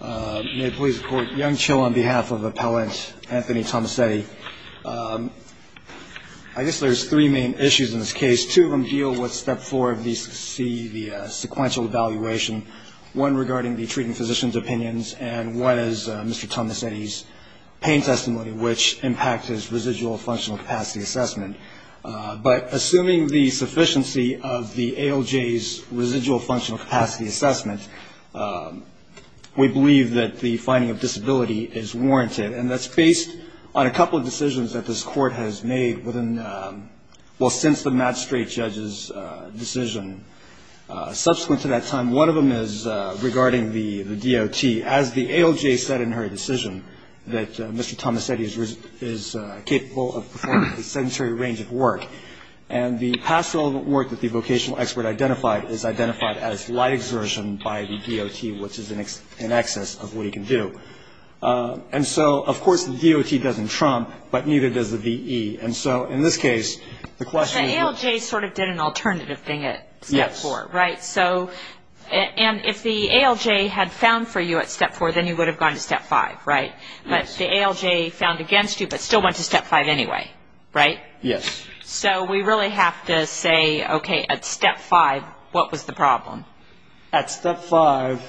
I guess there's three main issues in this case. Two of them deal with step four of the sequential evaluation, one regarding the treating physician's opinions and one is Mr. Tommasetti's pain testimony, which impacts his residual functional capacity assessment. But assuming the sufficiency of the ALJ's residual functional capacity assessment, we believe that the finding of disability is warranted. And that's based on a couple of decisions that this Court has made since the Matt Strait judge's decision. Subsequent to that time, one of them is regarding the DOT. As the ALJ said in her decision, that Mr. Tommasetti is capable of performing a sedentary range of work. And the past relevant work that the vocational expert identified is identified as light exertion by the DOT, which is in excess of what he can do. And so, of course, the DOT doesn't trump, but neither does the VE. And so, in this case, the question is... And if the ALJ had found for you at step four, then you would have gone to step five, right? But the ALJ found against you, but still went to step five anyway, right? Yes. So we really have to say, okay, at step five, what was the problem? At step five,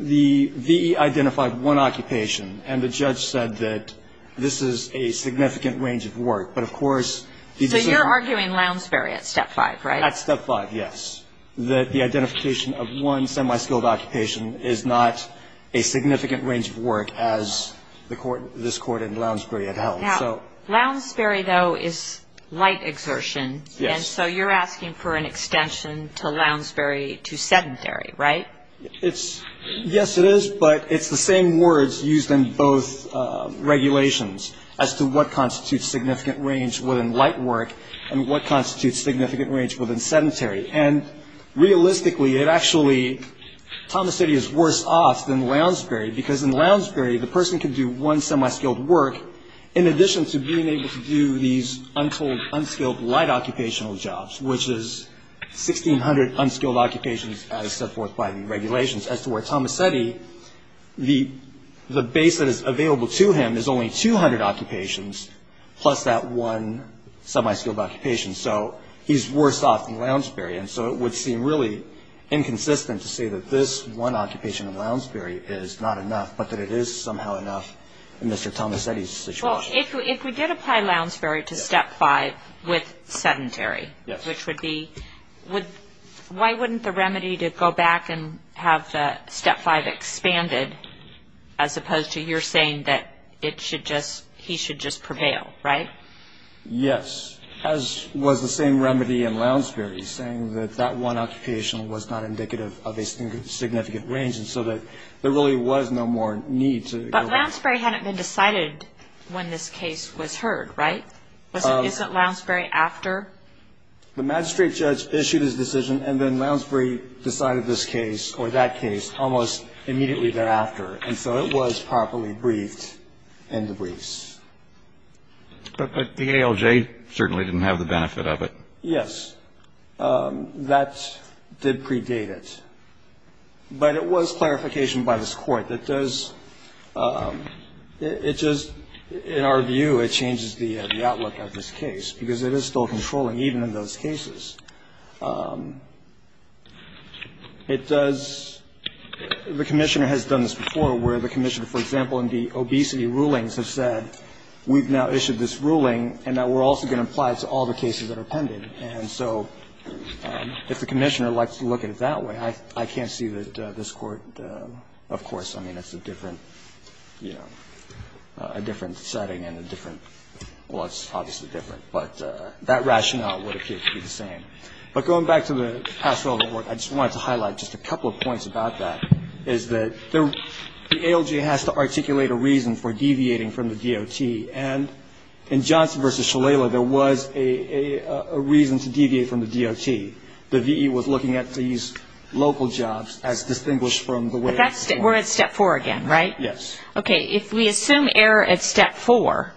the VE identified one occupation and the judge said that this is a significant range of work, but of course... So you're arguing Lounsbury at step five, right? At step five, yes, that the identification of one semi-skilled occupation is not a significant range of work as this Court in Lounsbury had held. Now, Lounsbury, though, is light exertion. Yes. And so you're asking for an extension to Lounsbury to sedentary, right? Yes, it is, but it's the same words used in both regulations as to what constitutes significant range within light work and what constitutes significant range within sedentary. And realistically, it actually... Tomasetti is worse off than Lounsbury because in Lounsbury, the person can do one semi-skilled work in addition to being able to do these untold unskilled light occupational jobs, which is 1,600 unskilled occupations as set forth by the regulations, as to where Tomasetti, the base that is available to him is only 200 occupations plus that one semi-skilled occupation. So he's worse off than Lounsbury. And so it would seem really inconsistent to say that this one occupation in Lounsbury is not enough, but that it is somehow enough in Mr. Tomasetti's situation. Well, if we did apply Lounsbury to step five with sedentary, which would be... Why wouldn't the remedy to go back and have the step five expanded, as opposed to your saying that he should just prevail, right? Yes, as was the same remedy in Lounsbury, saying that that one occupation was not indicative of a significant range, and so that there really was no more need to... But Lounsbury hadn't been decided when this case was heard, right? Isn't Lounsbury after? The magistrate judge issued his decision, and then Lounsbury decided this case, or that case, almost immediately thereafter. And so it was properly briefed in the briefs. But the ALJ certainly didn't have the benefit of it. Yes. That did predate it. But it was clarification by this Court that does – it just, in our view, it changes the outlook of this case, because it is still controlling, even in those cases. It does – the Commissioner has done this before, where the Commissioner, for example, in the obesity rulings, has said, we've now issued this ruling and that we're also going to apply it to all the cases that are pending. And so if the Commissioner likes to look at it that way, I can't see that this Court Of course, I mean, it's a different, you know, a different setting and a different – well, it's obviously different, but that rationale would appear to be the same. But going back to the past relevant work, I just wanted to highlight just a couple of points about that, is that the ALJ has to articulate a reason for deviating from the DOT. And in Johnson v. Shalala, there was a reason to deviate from the DOT. The V.E. was looking at these local jobs as distinguished from the way – But that's – we're at Step 4 again, right? Yes. Okay, if we assume error at Step 4,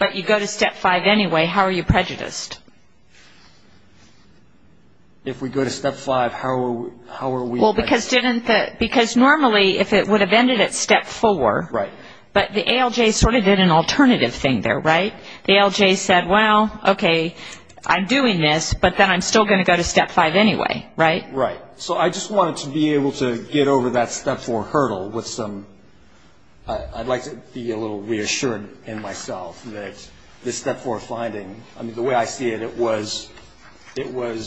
but you go to Step 5 anyway, how are you prejudiced? If we go to Step 5, how are we – Well, because didn't the – because normally, if it would have ended at Step 4, but the ALJ sort of did an alternative thing there, right? The ALJ said, well, okay, I'm doing this, but then I'm still going to go to Step 5 anyway, right? Right. So I just wanted to be able to get over that Step 4 hurdle with some – I'd like to be a little reassured in myself that the Step 4 finding, I mean, the way I see it, it was –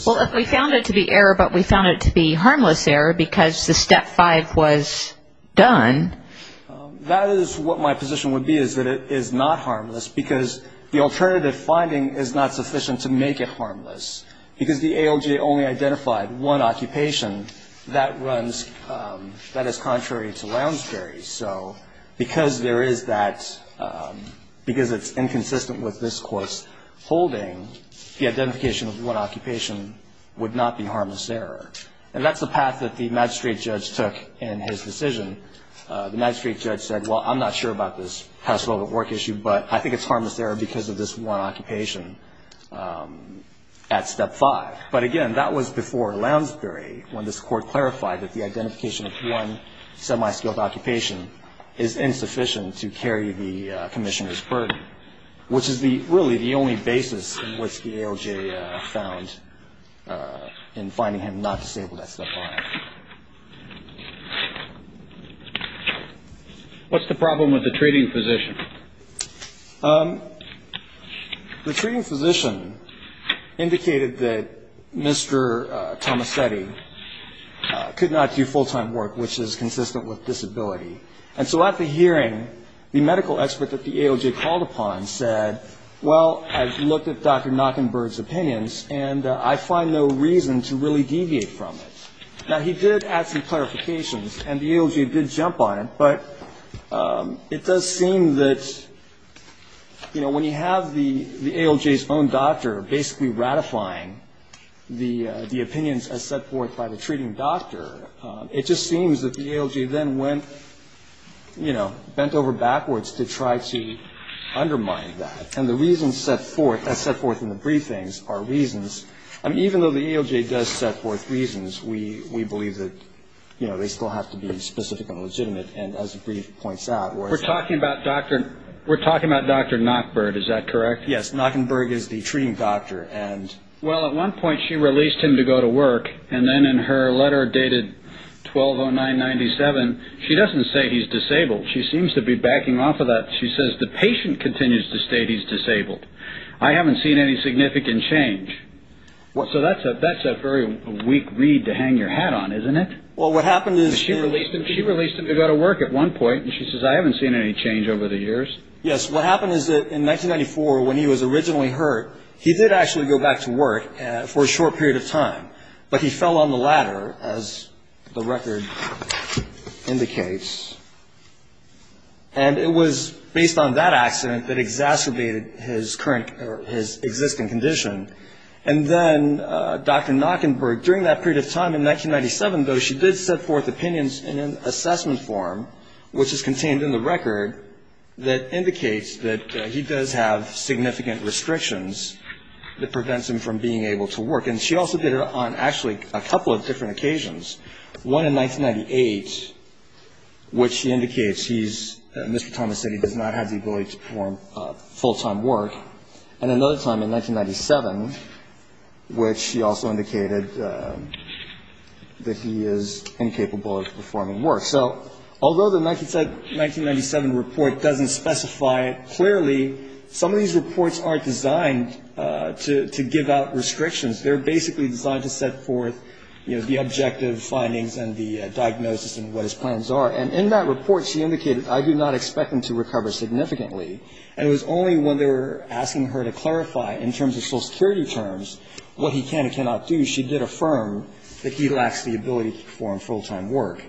Well, we found it to be error, but we found it to be harmless error because the Step 5 was done. That is what my position would be, is that it is not harmless because the alternative finding is not sufficient to make it harmless. Because the ALJ only identified one occupation, that runs – that is contrary to Lounsbury. So because there is that – because it's inconsistent with this Court's holding, the identification of one occupation would not be harmless error. And that's the path that the magistrate judge took in his decision. The magistrate judge said, well, I'm not sure about this House Velvet Work issue, but I think it's harmless error because of this one occupation at Step 5. But again, that was before Lounsbury, when this Court clarified that the identification of one semi-skilled occupation is insufficient to carry the Commissioner's burden, which is really the only basis in which the ALJ found in finding him not disabled at Step 5. What's the problem with the treating physician? The treating physician indicated that Mr. Tomasetti could not do full-time work, which is consistent with disability. And so at the hearing, the medical expert that the ALJ called upon said, well, I've looked at Dr. Knockenberg's opinions, and I find no reason to really deviate from it. Now, he did add some clarifications, and the ALJ did jump on it, but it does seem that, you know, when you have the ALJ's own doctor basically ratifying the opinions as set forth by the treating doctor, it just seems that the ALJ then went, you know, bent over backwards to try to undermine that. And the reasons set forth, as set forth in the briefings, are reasons. I mean, even though the ALJ does set forth reasons, we believe that, you know, they still have to be specific and legitimate. And as the brief points out, where it's... We're talking about Dr. Knockenberg, is that correct? Yes, Knockenberg is the treating doctor, and... 1209-97, she doesn't say he's disabled. She seems to be backing off of that. She says the patient continues to state he's disabled. I haven't seen any significant change. So that's a very weak read to hang your hat on, isn't it? Well, what happened is... She released him to go to work at one point, and she says, I haven't seen any change over the years. Yes, what happened is that in 1994, when he was originally hurt, he did actually go back to work for a short period of time, but he fell on the ladder, as the record indicates. And it was based on that accident that exacerbated his current or his existing condition. And then Dr. Knockenberg, during that period of time, in 1997, though, she did set forth opinions in an assessment form, which is contained in the record, that indicates that he does have significant restrictions that prevents him from being able to work. And she also did it on actually a couple of different occasions. One in 1998, which indicates he's Mr. Thomas said he does not have the ability to perform full-time work. And another time in 1997, which she also indicated that he is incapable of performing work. So although the 1997 report doesn't specify it clearly, some of these reports aren't designed to give out restrictions. They're basically designed to set forth, you know, the objective findings and the diagnosis and what his plans are. And in that report, she indicated, I do not expect him to recover significantly. And it was only when they were asking her to clarify in terms of Social Security terms what he can and cannot do, she did affirm that he lacks the ability to perform full-time work.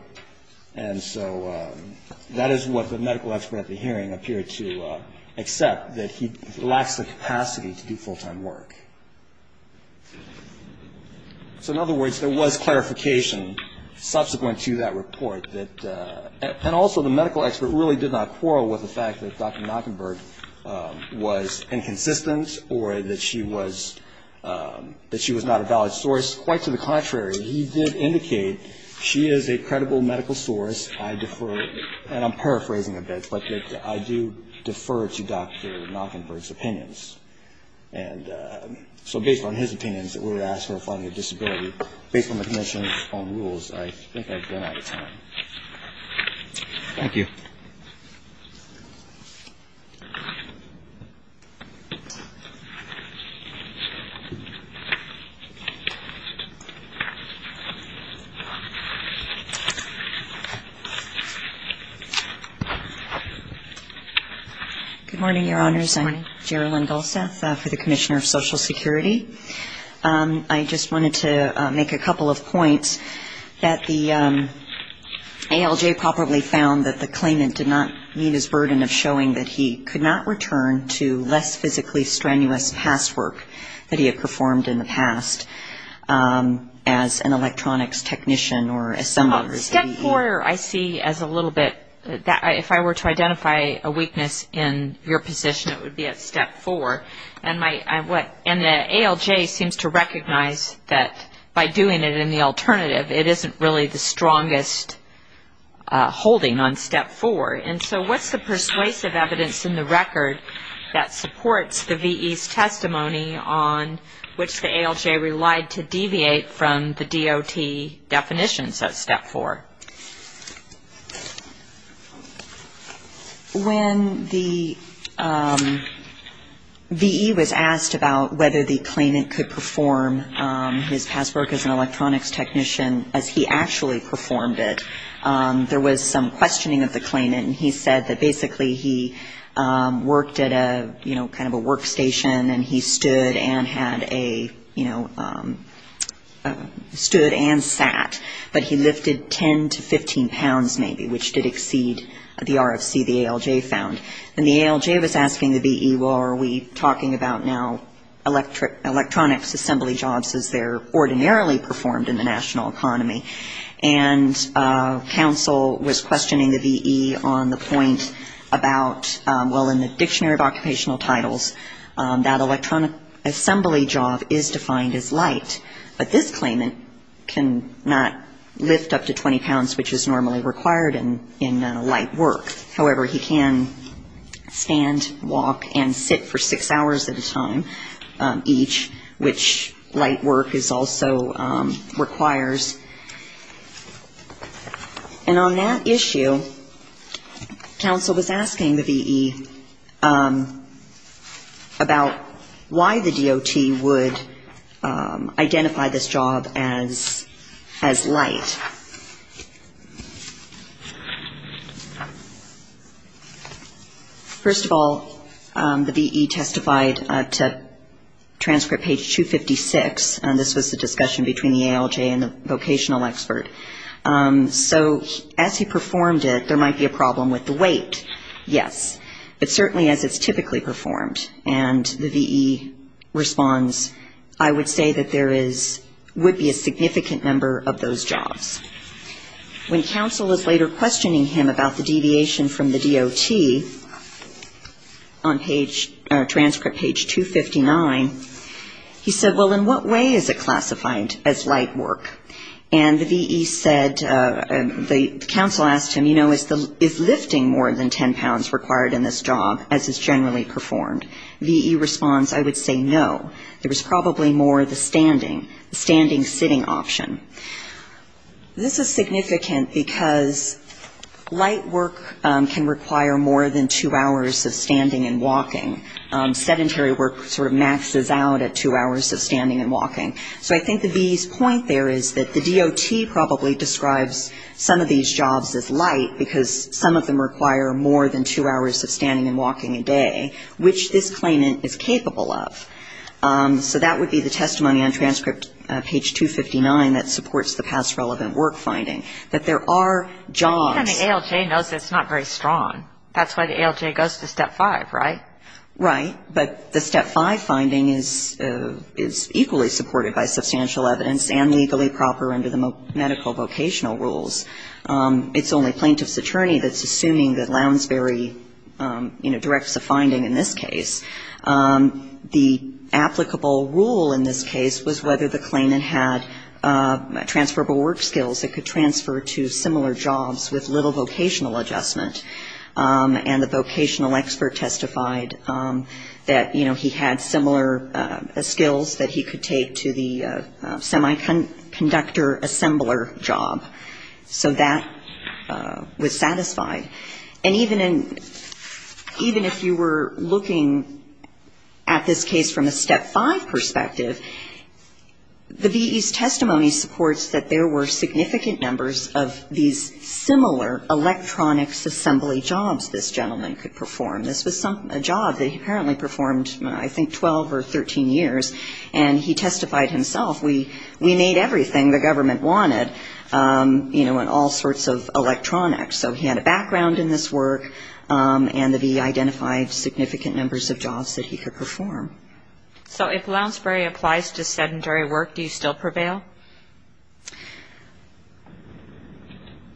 And so that is what the medical expert at the hearing appeared to accept, that he lacks the capacity to do full-time work. So in other words, there was clarification subsequent to that report that – and also, the medical expert really did not quarrel with the fact that Dr. Machenberg was inconsistent or that she was not a valid source. Quite to the contrary, he did indicate she is a credible medical source. I defer – and I'm paraphrasing a bit, but that I do defer to Dr. Machenberg's opinions. And so based on his opinions that were asked for her finding a disability, based on the Commission's own rules, I think I've run out of time. Thank you. Good morning, Your Honors. Good morning. I'm Gerilyn Dulceth for the Commissioner of Social Security. I just wanted to make a couple of points that the ALJ probably found that the claimant did not meet his burden of showing that he could not return to less physically strenuous past work that he had performed in the past. As an electronics technician or assembler. Step four, I see as a little bit – if I were to identify a weakness in your position, it would be at step four. And the ALJ seems to recognize that by doing it in the alternative, it isn't really the strongest holding on step four. And so what's the persuasive evidence in the record that supports the VE's testimony on which the ALJ relied to deviate from the DOT definitions at step four? When the VE was asked about whether the claimant could perform his past work as an electronics technician, as he actually performed it, there was some questioning of the claimant. And he said that basically he worked at a, you know, kind of a workstation, and he stood and had a, you know, stood and sat. But he lifted 10 to 15 pounds maybe, which did exceed the RFC the ALJ found. And the ALJ was asking the VE, well, are we talking about now electronics assembly jobs as they're ordinarily performed in the national economy? And counsel was questioning the VE on the point about, well, in the Dictionary of Occupational Titles, that electronic assembly job is defined as light. But this claimant cannot lift up to 20 pounds, which is normally required in light work. However, he can stand, walk, and sit for six hours at a time each, which light work also requires. And on that issue, counsel was asking the VE about why the DOT would identify this job as light. First of all, the VE testified to transcript page 256, and this was the discussion between the ALJ and the vocational expert. So as he performed it, there might be a problem with the weight, yes, but certainly as it's typically performed. And the VE responds, I would say that there is, would be a significant number of those jobs. When counsel was later questioning him about the deviation from the DOT on page, transcript page 259, he said, well, in what way is it classified as light work? And the VE said, the counsel asked him, you know, is lifting more than 10 pounds required in this job as is generally performed? VE responds, I would say no. There is probably more the standing, the standing sitting option. This is significant because light work can require more than two hours of standing and walking. Sedentary work sort of maxes out at two hours of standing and walking. So I think the VE's point there is that the DOT probably describes some of these jobs as light, because some of them require more than two hours of standing and walking a day, which this claimant is capable of. So that would be the testimony on transcript page 259 that supports the past relevant work finding, that there are jobs. But even the ALJ knows it's not very strong. That's why the ALJ goes to Step 5, right? Right. But the Step 5 finding is equally supported by substantial evidence and legally proper under the medical vocational rules. It's only plaintiff's attorney that's assuming that Lounsbery, you know, directs the finding in this case. The applicable rule in this case was whether the claimant had transferable work skills that could transfer to similar jobs with little vocational adjustment. And he had similar skills that he could take to the semiconductor assembler job. So that was satisfied. And even if you were looking at this case from a Step 5 perspective, the VE's testimony supports that there were significant numbers of these similar electronics assembly jobs this gentleman could perform. This was a job that he apparently performed, I think, 12 or 13 years. And he testified himself, we made everything the government wanted, you know, in all sorts of electronics. So he had a background in this work, and the VE identified significant numbers of jobs that he could perform. So if Lounsbery applies to sedentary work, do you still prevail?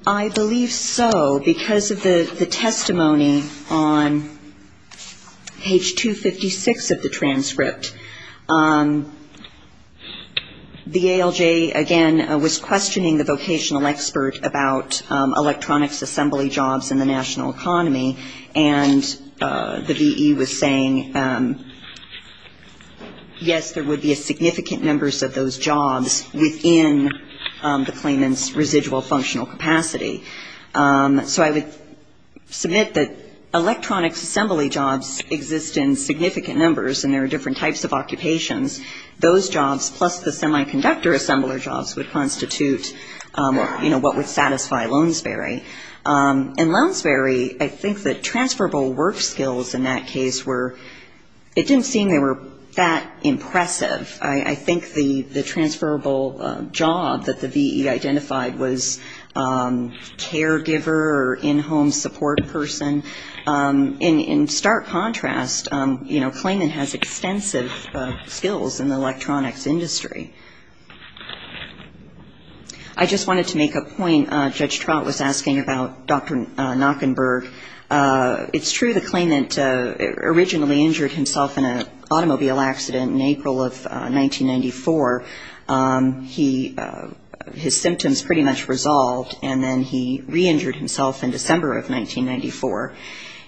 I believe so, because of the testimony on page 256 of the transcript. The ALJ, again, was questioning the vocational expert about electronics assembly jobs in the national economy, and the VE was saying, yes, there would be significant numbers of those jobs, within the claimant's residual functional capacity. So I would submit that electronics assembly jobs exist in significant numbers, and there are different types of occupations. Those jobs, plus the semiconductor assembler jobs, would constitute, you know, what would satisfy Lounsbery. And Lounsbery, I think the transferable work skills in that case were, it didn't seem they were that impressive. I think the transferable job that the VE identified was caregiver or in-home support person. In stark contrast, you know, claimant has extensive skills in the electronics industry. I just wanted to make a point. When Judge Trout was asking about Dr. Nackenberg, it's true the claimant originally injured himself in an automobile accident in April of 1994. His symptoms pretty much resolved, and then he re-injured himself in December of 1994.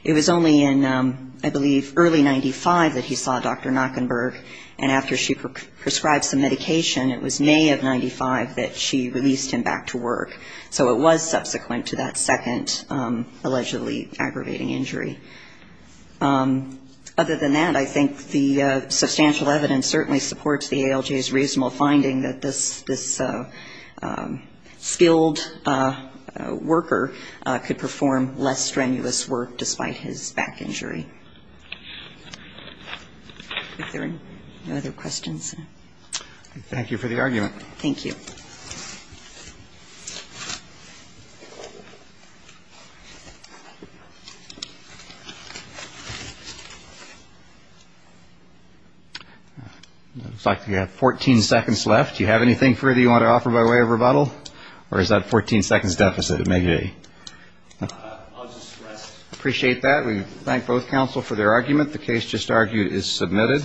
It was only in, I believe, early 95 that he saw Dr. Nackenberg, and after she prescribed some medication, it was May of 95 that she released him back to work. So it was subsequent to that second allegedly aggravating injury. Other than that, I think the substantial evidence certainly supports the ALJ's reasonable finding that this skilled worker could perform less strenuous work despite his back injury. Are there any other questions? Looks like we have 14 seconds left. Do you have anything further you want to offer by way of rebuttal, or is that 14 seconds deficit? It may be. I'll just rest. Appreciate that. We thank both counsel for their argument. The case just argued is submitted. Thank you.